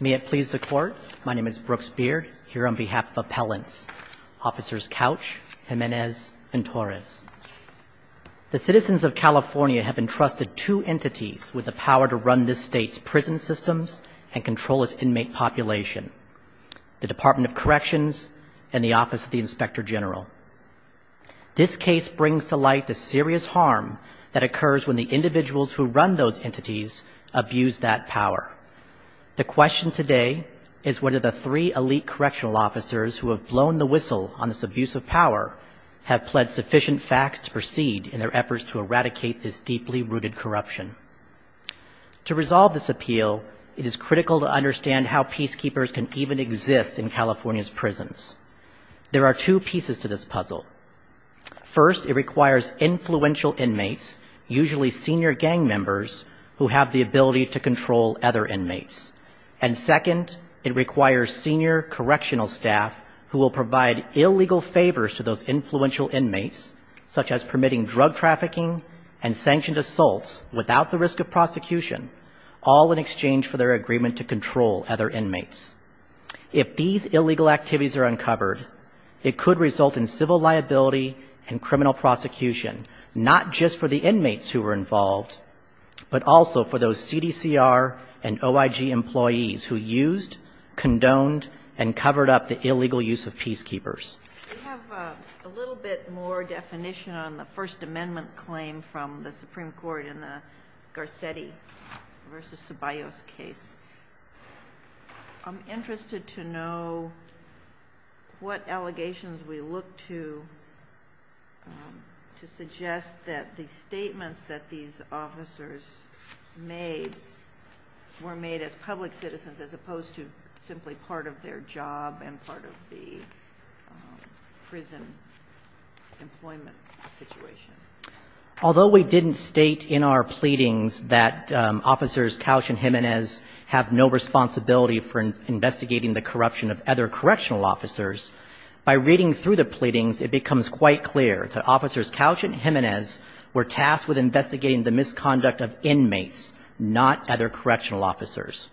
May it please the Court, my name is Brooks Beard, here on behalf of Appellants Officers Couch, Jimenez, and Torres. The citizens of California have entrusted two entities with the power to run this state's prison systems and control its inmate population, the Department of Corrections and the Office of the Inspector General. This case brings to light the serious harm that occurs when the individuals who run those entities abuse that power. The question today is whether the three elite correctional officers who have blown the whistle on this abuse of power have pled sufficient facts to proceed in their efforts to eradicate this deeply rooted corruption. To resolve this appeal, it is critical to understand how peacekeepers can even exist in California's prisons. First, it requires influential inmates, usually senior gang members, who have the ability to control other inmates. And second, it requires senior correctional staff who will provide illegal favors to those influential inmates, such as permitting drug trafficking and sanctioned assaults without the risk of prosecution, all in exchange for their agreement to control other inmates. If these illegal activities are uncovered, it could result in civil liability and criminal prosecution, not just for the inmates who were involved, but also for those CDCR and OIG employees who used, condoned, and covered up the illegal use of peacekeepers. We have a little bit more definition on the First Amendment claim from the Supreme Court in the Garcetti v. Ceballos case. I'm interested to know what allegations we look to to suggest that the statements that these officers made were made as public citizens, as opposed to simply part of their job and part of the prison employment situation. Although we didn't state in our pleadings that Officers Couch and Jimenez have no responsibility for any kind of investigating the corruption of other correctional officers, by reading through the pleadings, it becomes quite clear that Officers Couch and Jimenez were tasked with investigating the misconduct of inmates, not other correctional officers.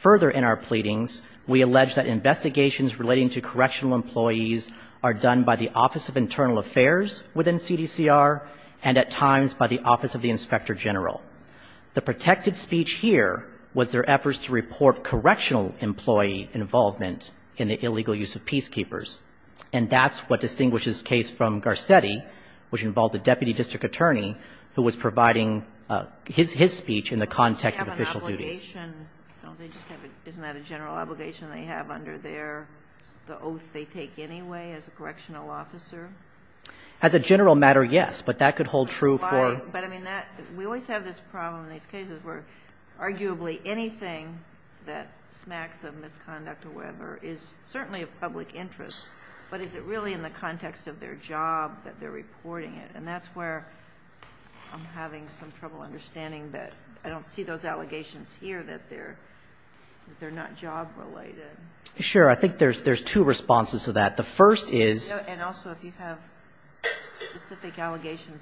Further in our pleadings, we allege that investigations relating to correctional employees are done by the Office of Internal Affairs within CDCR, and at times by the Office of the Inspector General. The protected speech here was their efforts to report correctional employee involvement in the illegal use of peacekeepers, and that's what distinguishes this case from Garcetti, which involved a deputy district attorney who was providing his speech in the context of official duties. Sotomayor, isn't that a general obligation they have under the oath they take anyway, as a correctional officer? As a general matter, yes, but that could hold true for other cases. We always have this problem in these cases where arguably anything that smacks of misconduct or whatever is certainly of public interest, but is it really in the context of their job that they're reporting it? And that's where I'm having some trouble understanding that. I don't see those allegations here that they're not job-related. Sure. I think there's two responses to that. The first is the allegations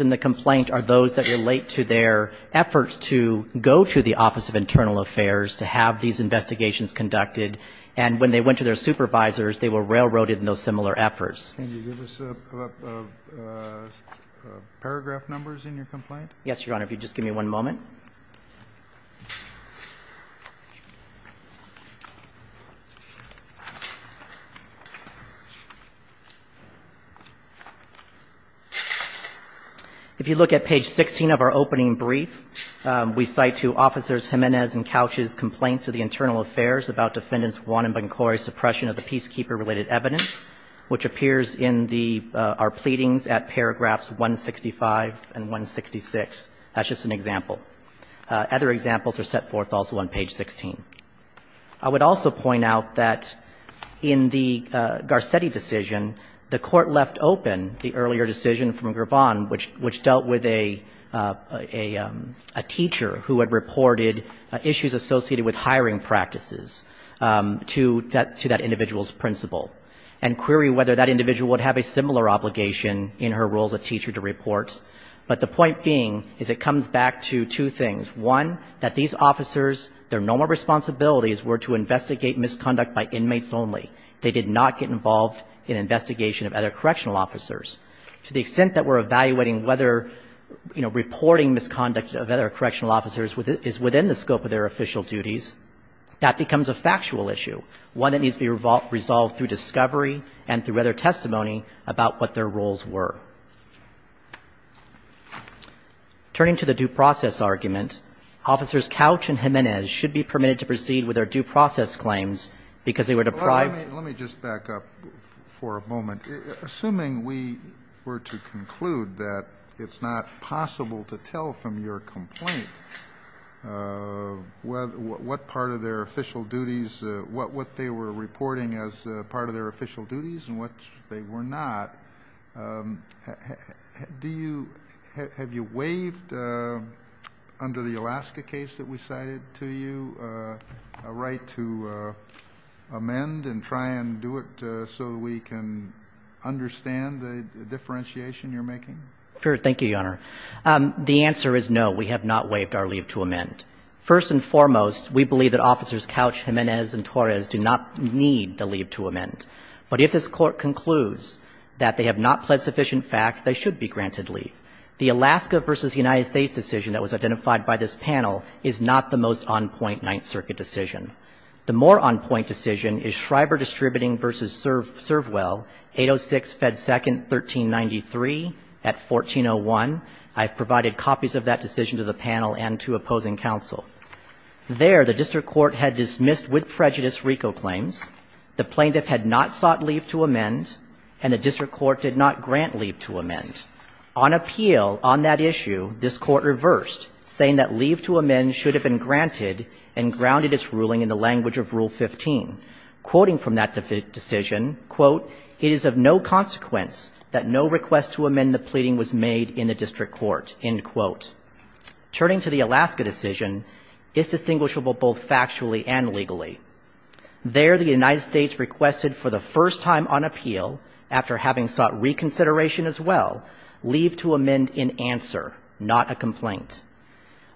in the complaint are those that relate to their efforts to go to the Office of Internal Affairs to have these investigations conducted, and when they went to their supervisors, they were railroaded in those similar efforts. Can you give us paragraph numbers in your complaint? Yes, Your Honor, if you'd just give me one moment. If you look at page 16 of our opening brief, we cite to Officers Jimenez and Couch's complaints to the Internal Affairs about Defendants Wan and Bancori's suppression of the peacekeeper-related evidence, which appears in our pleadings at paragraphs 165 and 166. That's just an example. Other examples are set forth also on page 16. I would also point out that in the Garcetti decision, the Court left open the earlier decision from Gervon, which dealt with a teacher who had reported issues associated with hiring practices to that individual's principal, and query whether that individual would have a similar obligation in her role as a teacher to report. But the point being is it comes back to two things. One, that these officers, their normal responsibilities were to investigate misconduct by inmates only. They did not get involved in investigation of other correctional officers. To the extent that we're evaluating whether, you know, reporting misconduct of other correctional officers is within the scope of their official duties, that becomes a factual issue, one that needs to be resolved through discovery and through other testimony about what their roles were. Turning to the due process argument, Officers Couch and Jimenez should be permitted to proceed with their due process claims because they were deprived of their due process claims. Let me just back up for a moment. Assuming we were to conclude that it's not possible to tell from your complaint what part of their official duties, what they were reporting as part of their official duties, do you – have you waived under the Alaska case that we cited to you a right to amend and try and do it so that we can understand the differentiation you're making? Sure. Thank you, Your Honor. The answer is no. We have not waived our leave to amend. First and foremost, we believe that Officers Couch, Jimenez, and Torres do not need the leave to amend. But if this Court concludes that they have not pled sufficient facts, they should be granted leave. The Alaska v. United States decision that was identified by this panel is not the most on-point Ninth Circuit decision. The more on-point decision is Schreiber Distributing v. Servwell, 806 Fed 2nd, 1393 at 1401. I've provided copies of that decision to the panel and to opposing counsel. There, the district court had dismissed with prejudice RICO claims. The plaintiff had not sought leave to amend, and the district court did not grant leave to amend. On appeal on that issue, this Court reversed, saying that leave to amend should have been granted and grounded its ruling in the language of Rule 15. Quoting from that decision, quote, it is of no consequence that no request to amend the pleading was made in the district court, end quote. Turning to the Alaska decision, it's distinguishable both factually and legally. There, the United States requested for the first time on appeal, after having sought reconsideration as well, leave to amend in answer, not a complaint.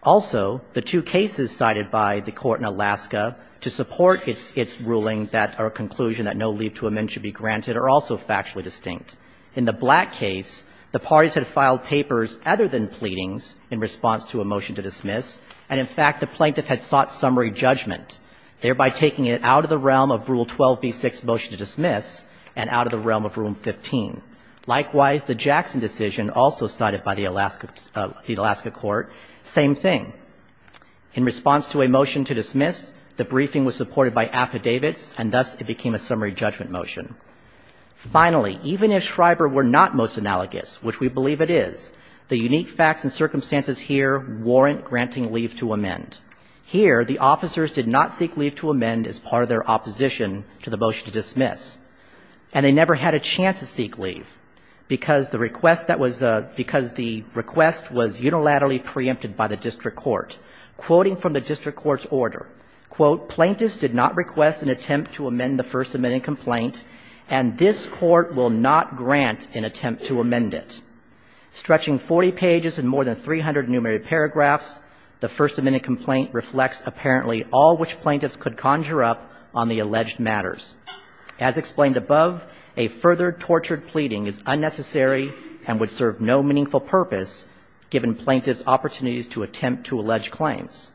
Also, the two cases cited by the Court in Alaska to support its ruling or conclusion that no leave to amend should be granted are also factually distinct. In the Black case, the parties had filed papers other than pleadings in response to a motion to dismiss, and in fact, the plaintiff had sought summary judgment, thereby taking it out of the realm of Rule 12b-6, motion to dismiss, and out of the realm of Rule 15. Likewise, the Jackson decision, also cited by the Alaska Court, same thing. In response to a motion to dismiss, the briefing was supported by affidavits, and thus it became a summary judgment motion. Finally, even if Schreiber were not most analogous, which we believe it is, the unique facts and circumstances here warrant granting leave to amend. Here, the officers did not seek leave to amend as part of their opposition to the motion to dismiss. And they never had a chance to seek leave because the request that was a – because the request was unilaterally preempted by the district court. Quoting from the district court's order, quote, Plaintiffs did not request an attempt to amend the First Amendment complaint and this Court will not grant an attempt to amend it. Stretching 40 pages and more than 300 numerated paragraphs, the First Amendment complaint reflects apparently all which plaintiffs could conjure up on the alleged matters. As explained above, a further tortured pleading is unnecessary and would serve no meaningful purpose given plaintiffs' opportunities to attempt to allege claims.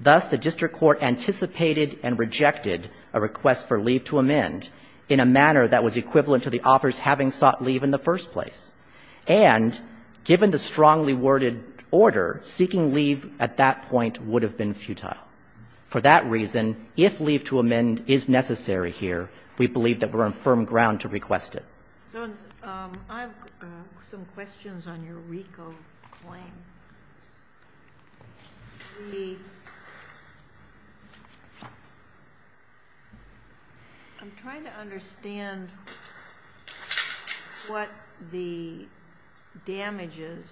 Thus, the district court anticipated and rejected a request for leave to amend in a manner that was equivalent to the officers having sought leave in the first place. And given the strongly worded order, seeking leave at that point would have been futile. For that reason, if leave to amend is necessary here, we believe that we're on firm ground to request it. I have some questions on your RICO claim. I'm trying to understand what the damages,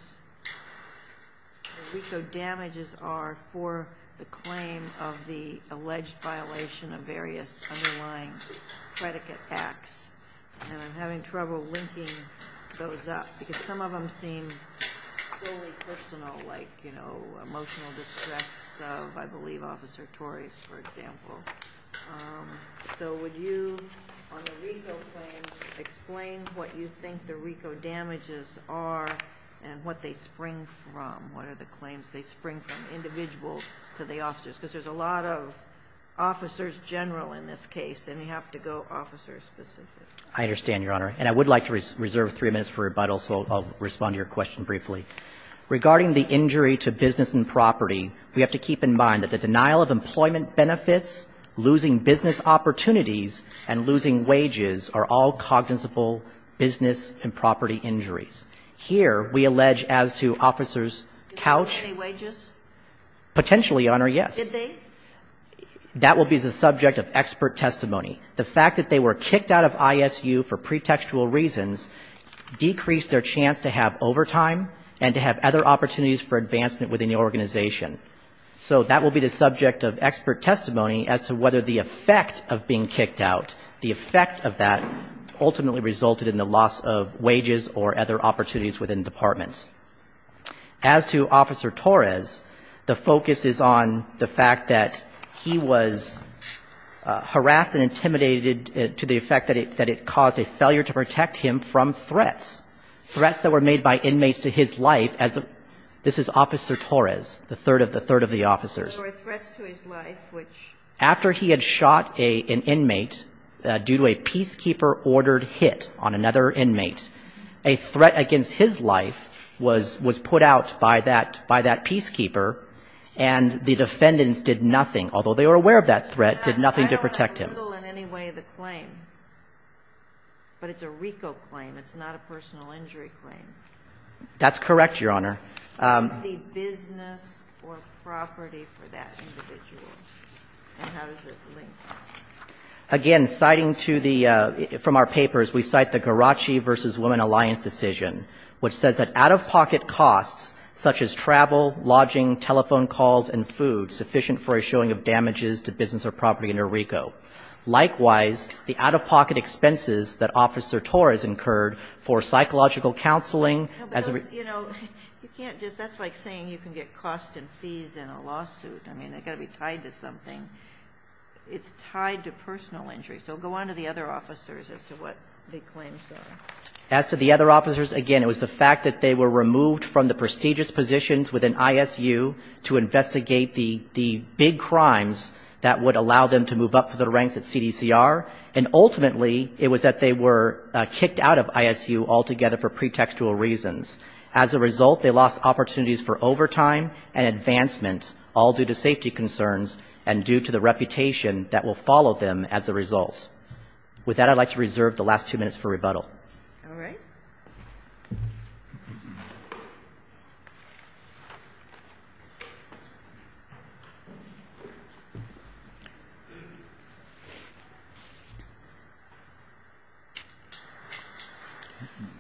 the RICO damages are for the claim of the alleged violation of various underlying predicate acts. And I'm having trouble linking those up because some of them seem solely personal, like emotional distress of, I believe, Officer Torres, for example. So would you, on the RICO claim, explain what you think the RICO damages are and what they spring from? What are the claims they spring from, individuals to the officers? Because there's a lot of officers general in this case and you have to go I understand, Your Honor. And I would like to reserve three minutes for rebuttal, so I'll respond to your question briefly. Regarding the injury to business and property, we have to keep in mind that the denial of employment benefits, losing business opportunities, and losing wages are all cognizable business and property injuries. Here, we allege as to Officers Couch. Potentially, Your Honor, yes. That will be the subject of expert testimony. The fact that they were kicked out of ISU for pretextual reasons decreased their chance to have overtime and to have other opportunities for advancement within the organization. So that will be the subject of expert testimony as to whether the effect of being kicked out, the effect of that ultimately resulted in the loss of wages or other opportunities within departments. As to Officer Torres, the focus is on the fact that he was harassed and attempted to the effect that it caused a failure to protect him from threats. Threats that were made by inmates to his life. This is Officer Torres, the third of the officers. There were threats to his life which... After he had shot an inmate due to a peacekeeper-ordered hit on another inmate, a threat against his life was put out by that peacekeeper and the defendants did nothing, although they were aware of that threat, did nothing to protect him. It's not in the middle in any way of the claim, but it's a RICO claim. It's not a personal injury claim. That's correct, Your Honor. The business or property for that individual. And how does it link? Again, citing to the, from our papers, we cite the Garacci v. Women Alliance decision, which says that out-of-pocket costs such as travel, lodging, telephone calls, and food sufficient for a showing of damages to business or property under RICO. Likewise, the out-of-pocket expenses that Officer Torres incurred for psychological counseling as a... You know, you can't just, that's like saying you can get costs and fees in a lawsuit. I mean, they've got to be tied to something. It's tied to personal injury. So go on to the other officers as to what the claims are. As to the other officers, again, it was the fact that they were removed from the ISU to investigate the big crimes that would allow them to move up through the ranks at CDCR. And ultimately, it was that they were kicked out of ISU altogether for pretextual reasons. As a result, they lost opportunities for overtime and advancement, all due to safety concerns and due to the reputation that will follow them as a result. With that, I'd like to reserve the last two minutes for rebuttal. All right. Thank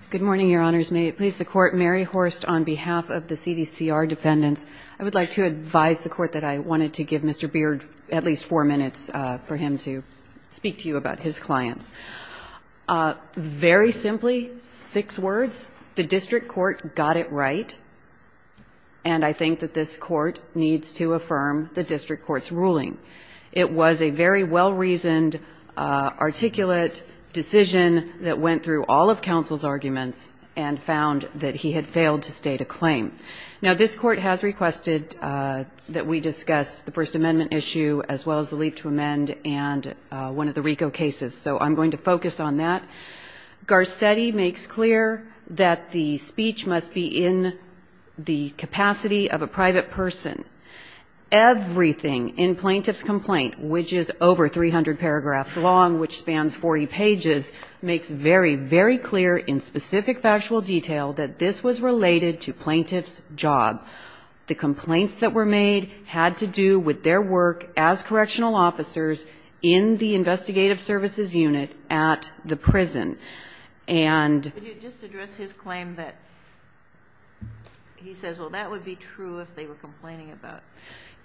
you. Good morning, Your Honors. May it please the Court. Mary Horst on behalf of the CDCR defendants. I would like to advise the Court that I wanted to give Mr. Beard at least four minutes for him to speak to you about his clients. Very simply, six words. The district court got it right. And I think that this Court needs to affirm the district court's ruling. It was a very well-reasoned, articulate decision that went through all of counsel's arguments and found that he had failed to state a claim. Now, this Court has requested that we discuss the First Amendment issue as well as the Leave to Amend and one of the RICO cases. So I'm going to focus on that. Garcetti makes clear that the speech must be in the capacity of a private person. Everything in Plaintiff's complaint, which is over 300 paragraphs long, which spans 40 pages, makes very, very clear in specific factual detail that this was related to Plaintiff's job. The complaints that were made had to do with their work as correctional officers in the investigative services unit at the prison. And you just address his claim that he says, well, that would be true if they were complaining about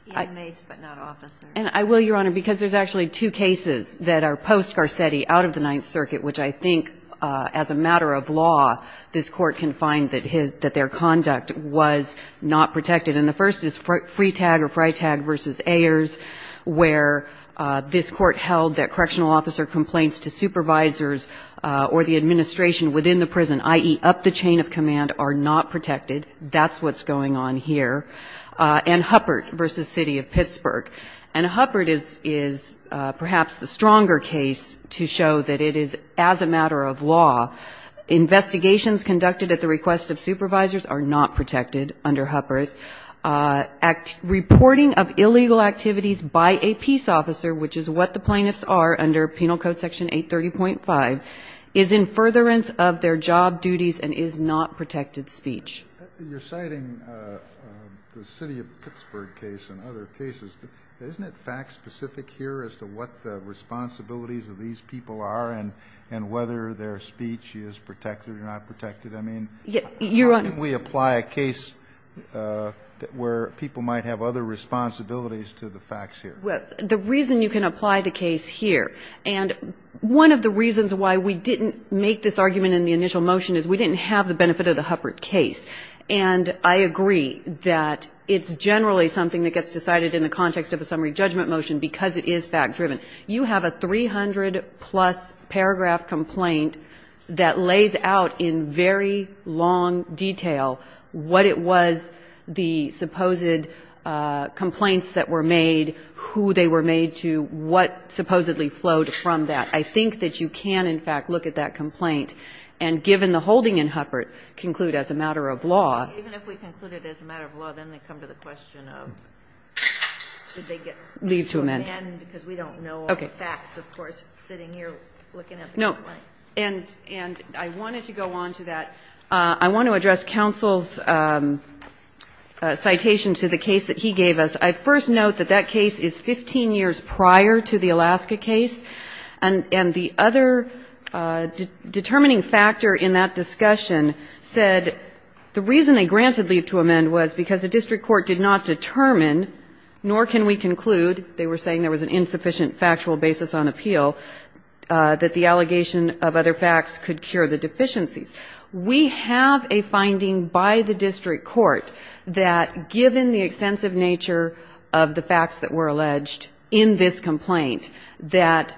inmates but not officers. And I will, Your Honor, because there's actually two cases that are post-Garcetti out of the Ninth Circuit, which I think, as a matter of law, this Court can find that their conduct was not protected. And the first is Freitag or Freitag v. Ayers, where there was a complaint this Court held that correctional officer complaints to supervisors or the administration within the prison, i.e., up the chain of command, are not protected. That's what's going on here. And Huppert v. City of Pittsburgh. And Huppert is perhaps the stronger case to show that it is, as a matter of law, investigations conducted at the request of supervisors are not protected under Huppert. Reporting of illegal activities by a peace officer, which is what the plaintiffs are under Penal Code Section 830.5, is in furtherance of their job duties and is not protected speech. You're citing the City of Pittsburgh case and other cases. Isn't it fact-specific here as to what the responsibilities of these people are and whether their speech is protected or not protected? Or is it a case where people might have other responsibilities to the facts here? Well, the reason you can apply the case here, and one of the reasons why we didn't make this argument in the initial motion is we didn't have the benefit of the Huppert case. And I agree that it's generally something that gets decided in the context of a summary judgment motion because it is fact-driven. You have a 300-plus paragraph complaint that lays out in very long detail what it was, the supposed complaints that were made, who they were made to, what supposedly flowed from that. I think that you can, in fact, look at that complaint and, given the holding in Huppert, conclude as a matter of law. Even if we conclude it as a matter of law, then they come to the question of did they get to amend because we don't know all the facts, of course, sitting here looking at the complaint. And I wanted to go on to that. I want to address counsel's citation to the case that he gave us. I first note that that case is 15 years prior to the Alaska case. And the other determining factor in that discussion said the reason they granted leave to amend was because the district court did not determine, nor can we conclude they were saying there was an insufficient factual basis on appeal, that the allegation of other facts could cure the deficiencies. We have a finding by the district court that, given the extensive nature of the facts that were alleged in this complaint, that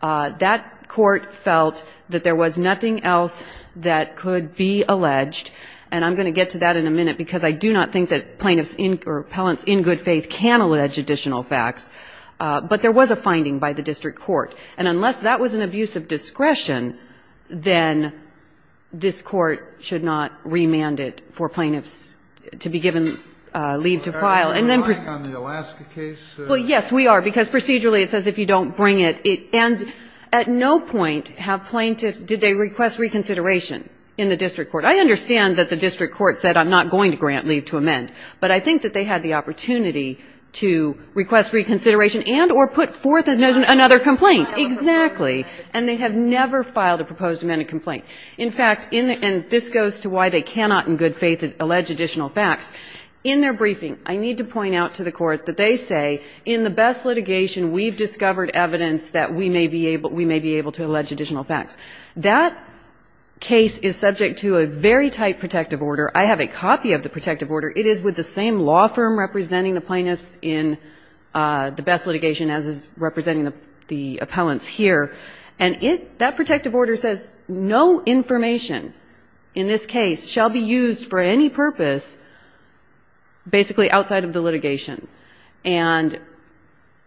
that court felt that there was nothing else that could be alleged, and I'm going to get to that in a minute because I do not think that plaintiffs or appellants in good faith can allege additional facts, but there was a finding by the district court. And unless that was an abuse of discretion, then this court should not remand it for plaintiffs to be given leave to file. And then we are because procedurally it says if you don't bring it, it ends at no point have plaintiffs did they request reconsideration in the district court. I understand that the district court said I'm not going to grant leave to amend, but I think that they had the opportunity to request reconsideration and or put forth another complaint. Exactly. And they have never filed a proposed amended complaint. In fact, and this goes to why they cannot in good faith allege additional facts. In their briefing, I need to point out to the court that they say in the best litigation we've discovered evidence that we may be able to allege additional facts. That case is subject to a very tight protective order. I have a copy of the protective order. It is with the same law firm representing the plaintiffs in the best litigation as is representing the appellants here. And it, that protective order says no information in this case shall be used for any purpose basically outside of the litigation. And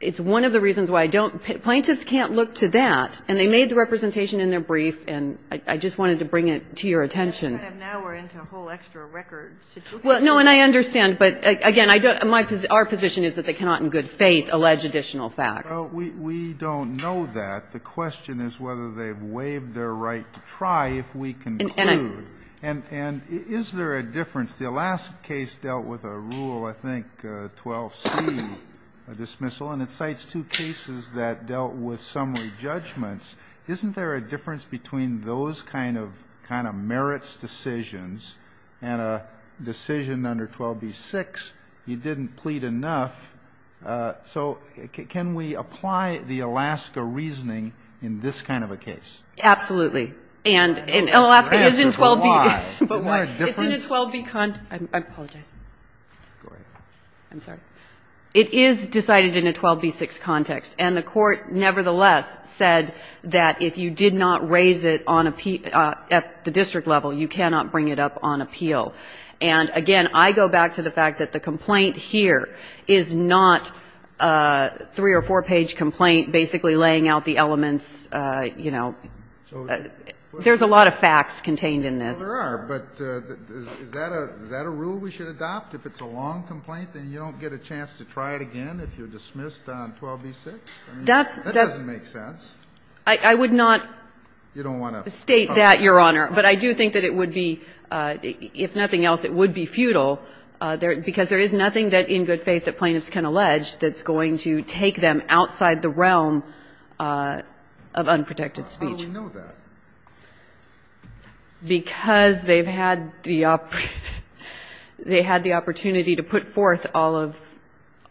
it's one of the reasons why I don't, plaintiffs can't look to that. And they made the representation in their brief, and I just wanted to bring it to your attention. And now we're into a whole extra record. Well, no, and I understand, but again, I don't, our position is that they cannot in good faith allege additional facts. Well, we don't know that. The question is whether they've waived their right to try if we conclude. And is there a difference? The last case dealt with a rule, I think, 12C dismissal, and it cites two cases that dealt with summary judgments. Isn't there a difference between those kind of merits decisions and a decision under 12B6, you didn't plead enough. So can we apply the Alaska reasoning in this kind of a case? Absolutely. And in Alaska, it is in 12B. Isn't there a difference? It's in a 12B context. I apologize. Go ahead. I'm sorry. It is decided in a 12B6 context, and the Court nevertheless said that if you did not raise it on appeal, at the district level, you cannot bring it up on appeal. And, again, I go back to the fact that the complaint here is not a three- or four-page complaint basically laying out the elements, you know. There's a lot of facts contained in this. Well, there are, but is that a rule we should adopt? If it's a long complaint, then you don't get a chance to try it again if you're dismissed on 12B6? I mean, that doesn't make sense. I would not state that, Your Honor. But I do think that it would be, if nothing else, it would be futile, because there is nothing in good faith that plaintiffs can allege that's going to take them outside the realm of unprotected speech. How do we know that? Because they've had the opportunity to put forth all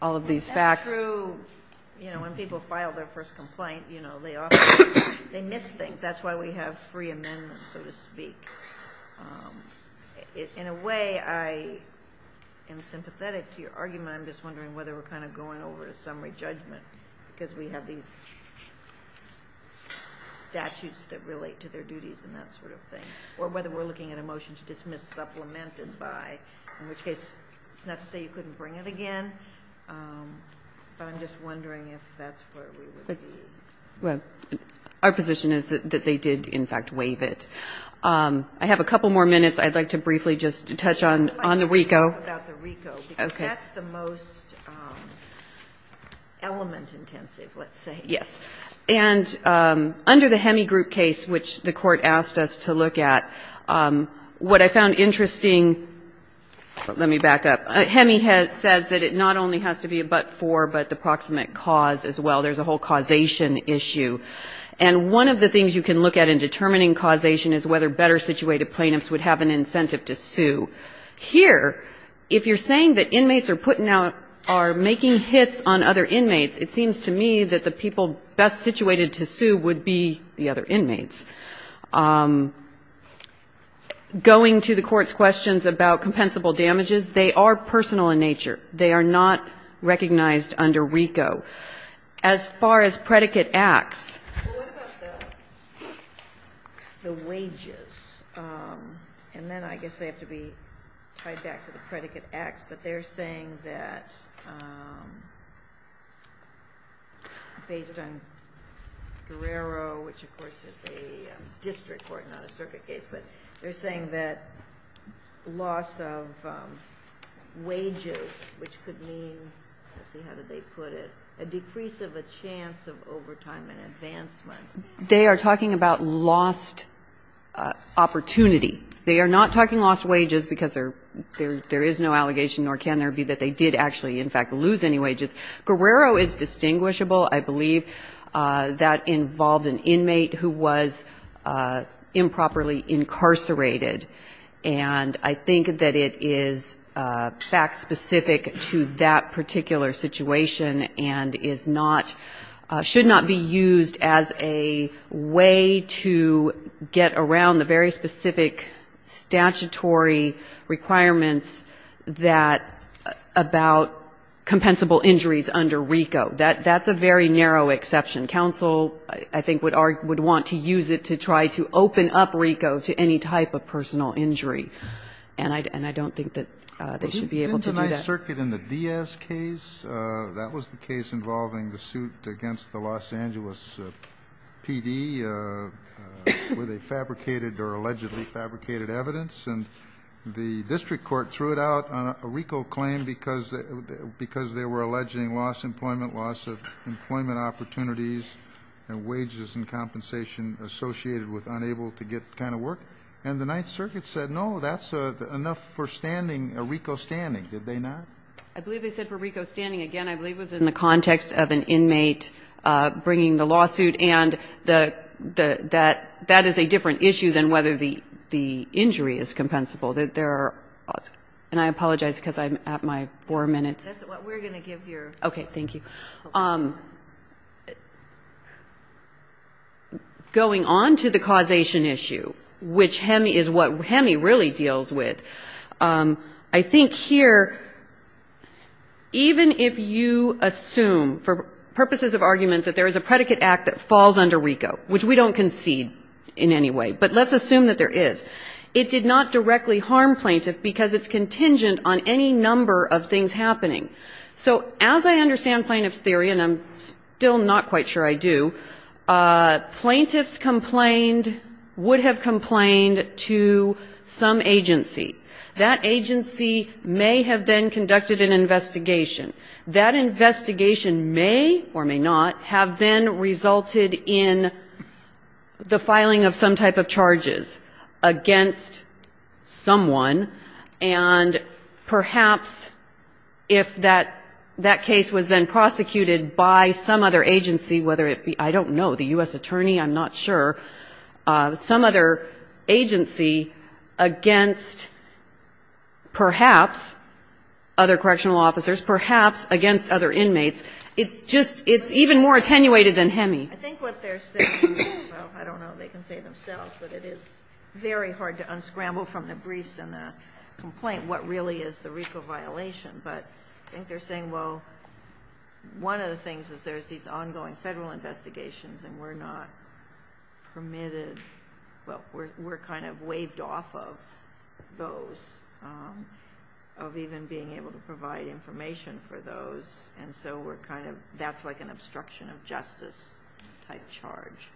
of these facts. That's true. You know, when people file their first complaint, you know, they miss things. That's why we have free amendments, so to speak. In a way, I am sympathetic to your argument. I'm just wondering whether we're kind of going over to summary judgment, because we have these statutes that relate to their duties and that sort of thing. Or whether we're looking at a motion to dismiss supplemented by, in which case it's not to say you couldn't bring it again, but I'm just wondering if that's where we would be. Well, our position is that they did, in fact, waive it. I have a couple more minutes. I'd like to briefly just touch on the RICO. I'd like to talk about the RICO, because that's the most element-intensive, let's say. Yes. And under the Hemi group case, which the Court asked us to look at, what I found interesting, let me back up. Hemi says that it not only has to be a but-for, but the proximate cause as well. There's a whole causation issue. And one of the things you can look at in determining causation is whether better-situated plaintiffs would have an incentive to sue. Here, if you're saying that inmates are putting out, are making hits on other inmates, it seems to me that the people best-situated to sue would be the other inmates. Going to the Court's questions about compensable damages, they are personal in nature. They are not recognized under RICO. As far as predicate acts... Well, what about the wages? And then I guess they have to be tied back to the predicate acts. But they're saying that, based on Guerrero, which of course is a district court, not a circuit case, but they're saying that loss of wages, which could mean, let's see, how did they put it? A decrease of a chance of overtime and advancement. They are talking about lost opportunity. They are not talking lost wages, because there is no allegation, nor can there be, that they did actually, in fact, lose any wages. Guerrero is distinguishable, I believe. That involved an inmate who was improperly incarcerated. And that inmate is not subject to that particular situation and is not, should not be used as a way to get around the very specific statutory requirements that, about compensable injuries under RICO. That's a very narrow exception. Counsel, I think, would want to use it to try to open up RICO to any type of personal injury. And I don't think that they should be able to do that. In the Ninth Circuit, in the Diaz case, that was the case involving the suit against the Los Angeles PD, where they fabricated or allegedly fabricated evidence. And the district court threw it out on a RICO claim because they were alleging loss of employment, loss of employment opportunities and wages and compensation associated with unable to get the kind of work. And the Ninth Circuit said, no, that's enough for standing, a RICO standing. Did they not? I believe they said for RICO standing. Again, I believe it was in the context of an inmate bringing the lawsuit. And that is a different issue than whether the injury is compensable. And I apologize because I'm at my four minutes. That's what we're going to give you. Okay. Thank you. Going on to the causation issue, which is what HEMI really deals with, I think here, even if you assume, for purposes of argument, that there is a predicate act that falls under RICO, which we don't concede in any way, but let's assume that there is, it did not directly harm plaintiff because it's contingent on any number of In the case of the plaintiff's theory, and I'm still not quite sure I do, plaintiffs complained, would have complained to some agency. That agency may have then conducted an investigation. That investigation may or may not have then resulted in the filing of some type of charges against someone, and perhaps if that case was then prosecuted, that case would then be prosecuted by some other agency, whether it be, I don't know, the U.S. attorney, I'm not sure, some other agency against perhaps other correctional officers, perhaps against other inmates. It's just, it's even more attenuated than HEMI. I think what they're saying, I don't know if they can say it themselves, but it is very hard to unscramble from the briefs and the complaint what really is the RICO violation. But I think they're saying, well, one of the things is there's these ongoing federal investigations and we're not permitted, well, we're kind of waived off of those, of even being able to provide information for those, and so we're kind of, that's like an obstruction of justice type charge,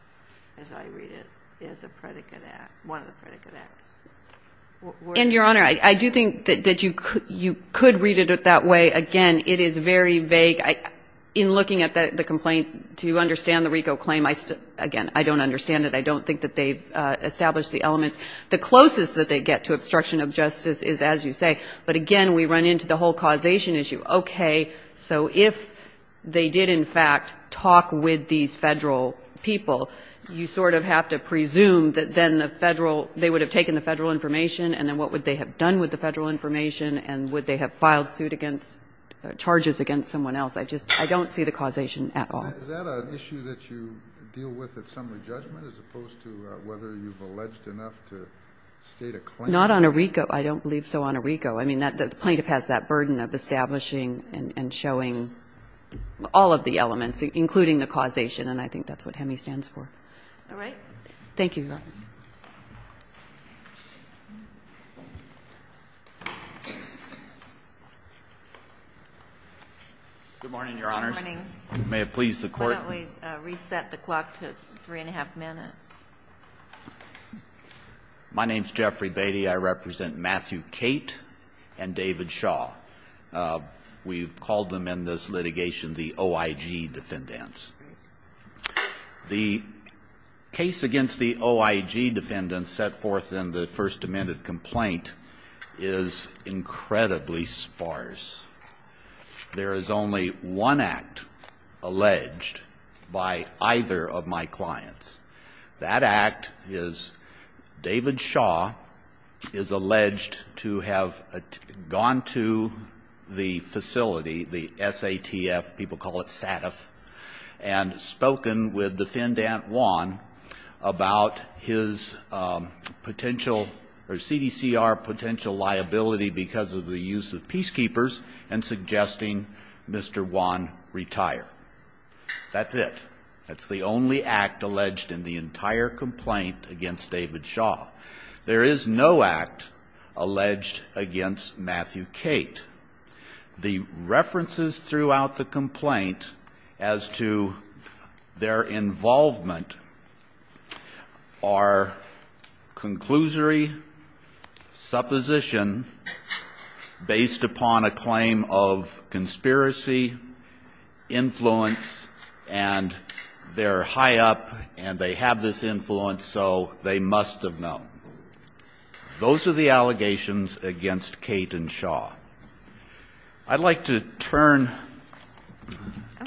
as I read it, as a predicate act, one of the predicate acts. And, Your Honor, I do think that you could read it that way. Again, it is very vague. In looking at the complaint, to understand the RICO claim, again, I don't understand it, I don't think that they've established the elements. The closest that they get to obstruction of justice is, as you say, but again, we run into the whole causation issue. Okay, so if they did, in fact, talk with these federal people, you sort of have to presume that then the federal, they would have taken the federal information, and then what would they have done with the federal information, and would they have filed suit against, charges against someone else? I just, I don't see the causation at all. Is that an issue that you deal with at summary judgment, as opposed to whether you've alleged enough to state a claim? Not on a RICO. I don't believe so on a RICO. I mean, the plaintiff has that burden of establishing and showing all of the elements, including the causation, and I think that's what HEMI stands for. All right. Thank you, Your Honor. Good morning, Your Honors. Good morning. May it please the Court? Why don't we reset the clock to three and a half minutes? My name is Jeffrey Beatty. I represent Matthew Cate and David Shaw. We've called them in this litigation the OIG defendants. The case against the OIG defendants set forth in the First Amendment complaint is incredibly sparse. There is only one act alleged by either of my clients. That act is David Shaw is alleged to have gone to the facility, the SATF, people call it SATF, and spoken with Defendant Juan about his potential or CDCR potential liability because of the use of peacekeepers and suggesting Mr. Juan retire. That's it. That's the only act alleged in the entire complaint against David Shaw. There is no act alleged against Matthew Cate. The references throughout the complaint as to their involvement are conclusory supposition based upon a claim of conspiracy, influence, and they're high up and they have this influence, so they must have known. Those are the allegations against Cate and Shaw. I'd like to turn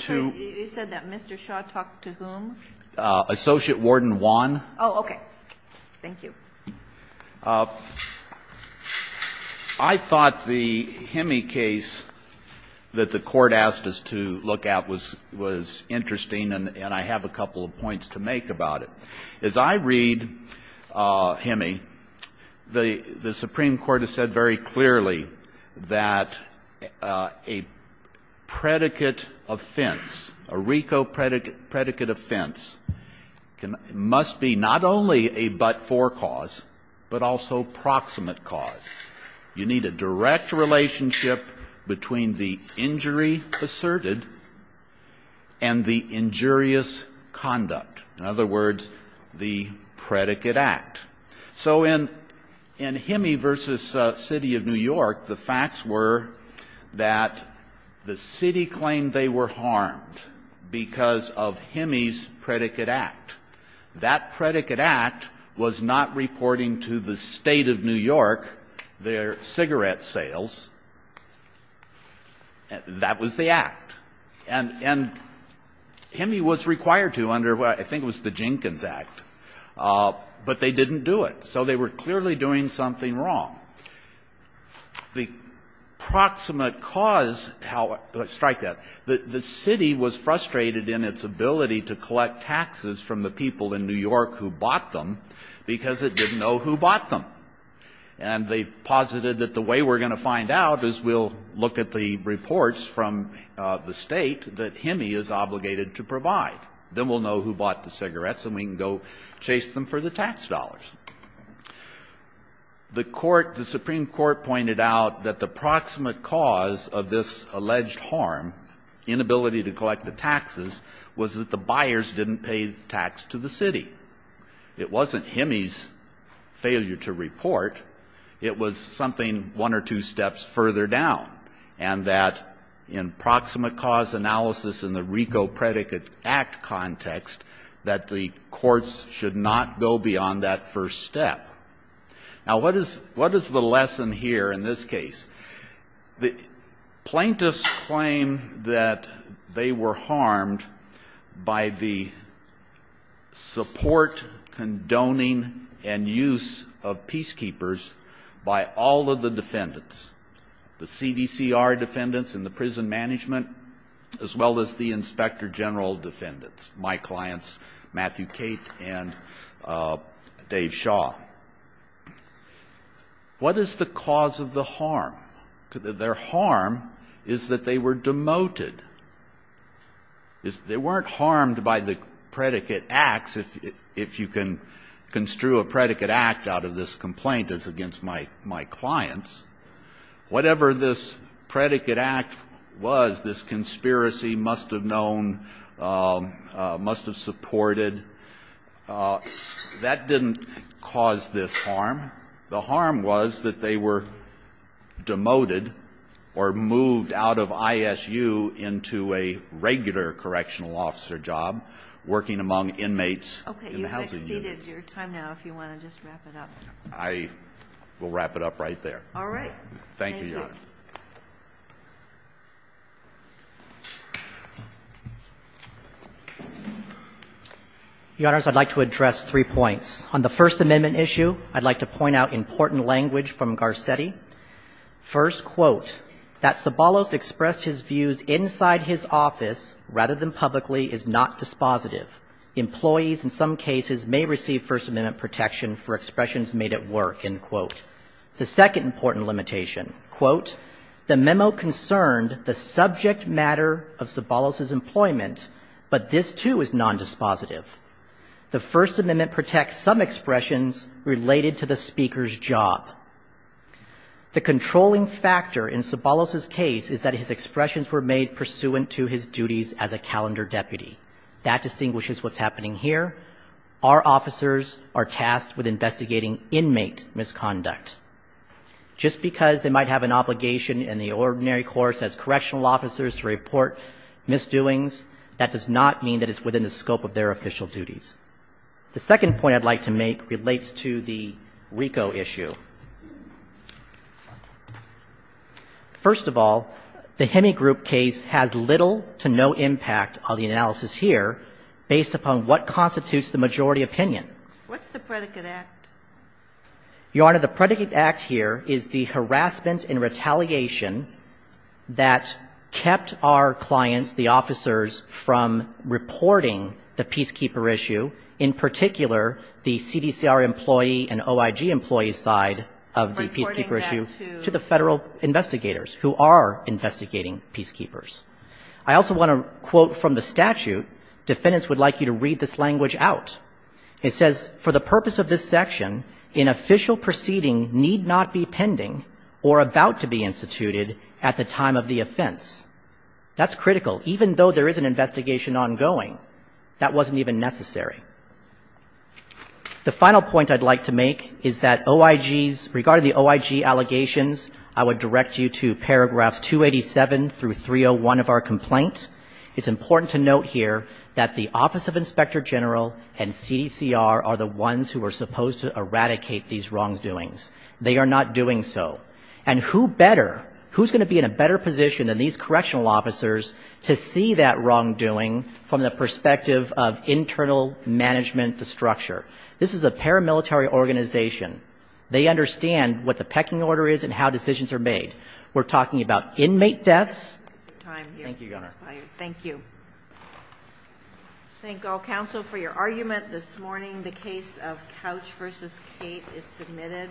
to... Okay. You said that Mr. Shaw talked to whom? Associate Warden Juan. Oh, okay. Thank you. I thought the Hemi case that the Court asked us to look at was interesting and I have a couple of points to make about it. As I read Hemi, the Supreme Court has said very clearly that a predicate offense, a RICO predicate offense must be not only a but-for cause, but also proximate cause. You need a direct relationship between the injury asserted and the injurious conduct. In other words, the predicate act. So in Hemi v. City of New York, the facts were that the City claimed they were harmed because of Hemi's predicate act. That predicate act was not reporting to the State of New York their cigarette sales. That was the act. And Hemi was required to under, I think it was the Jenkins Act, but they didn't do it. So they were clearly doing something wrong. The proximate cause, strike that, the City was frustrated in its ability to collect taxes from the people in New York who bought them because it didn't know who bought them. And they posited that the way we're going to find out is we'll look at the reports from the State that Hemi is obligated to provide. Then we'll know who bought the cigarettes and we can go chase them for the tax dollars. The Supreme Court pointed out that the proximate cause of this alleged harm, inability to collect the taxes, was that the buyers didn't pay tax to the City. It wasn't Hemi's failure to report. It was something one or two steps further down. And that in proximate cause analysis in the RICO predicate act context, that the courts should not go beyond that first step. Now, what is the lesson here in this case? The plaintiffs claim that they were harmed by the support, condoning, and use of peacekeepers by all of the defendants, the CDCR defendants and the prison management, as well as the inspector general defendants, my clients Matthew Cate and Dave Shaw. What is the cause of the harm? Their harm is that they were demoted. They weren't harmed by the predicate acts, if you can construe a predicate act out of this complaint as against my clients. Whatever this predicate act was, this conspiracy must have known, must have supported, that didn't cause this harm. The harm was that they were demoted or moved out of ISU into a regular correctional officer job working among inmates in the housing units. Okay. You have exceeded your time now, if you want to just wrap it up. I will wrap it up right there. All right. Thank you. Thank you, Your Honor. Your Honor, I would like to address three points. On the First Amendment issue, I would like to point out important language from Garcetti. First, quote, that Sobolos expressed his views inside his office rather than publicly is not dispositive. Employees in some cases may receive First Amendment protection for expressions made at work, end quote. The second important limitation, quote, the memo concerned the subject matter of Sobolos' employment, but this, too, is nondispositive. The First Amendment protects some expressions related to the speaker's job. The controlling factor in Sobolos' case is that his expressions were made pursuant to his duties as a calendar deputy. That distinguishes what's happening here. Our officers are tasked with investigating inmate misconduct. Just because they might have an obligation in the ordinary course as correctional officers to report misdoings, that does not mean that it's within the scope of their official duties. The second point I'd like to make relates to the RICO issue. First of all, the Hemigroup case has little to no impact on the analysis here based upon what constitutes the majority opinion. What's the predicate act? Your Honor, the predicate act here is the harassment and retaliation that kept our clients, the officers, from reporting the peacekeeper issue, in particular, the CDCR employee and OIG employee side of the peacekeeper issue to the Federal investigators who are investigating peacekeepers. I also want to quote from the statute, defendants would like you to read this language out. It says, for the purpose of this section, an official proceeding need not be pending or about to be instituted at the time of the offense. That's critical. Even though there is an investigation ongoing, that wasn't even necessary. The final point I'd like to make is that OIG's, regarding the OIG allegations, I would like to note here that the Office of Inspector General and CDCR are the ones who are supposed to eradicate these wrongdoings. They are not doing so. And who better, who's going to be in a better position than these correctional officers to see that wrongdoing from the perspective of internal management, the structure? This is a paramilitary organization. They understand what the pecking order is and how decisions are made. We're talking about inmate deaths. Thank you, Governor. Thank you. Thank all counsel for your argument this morning. The case of Couch v. Cate is submitted.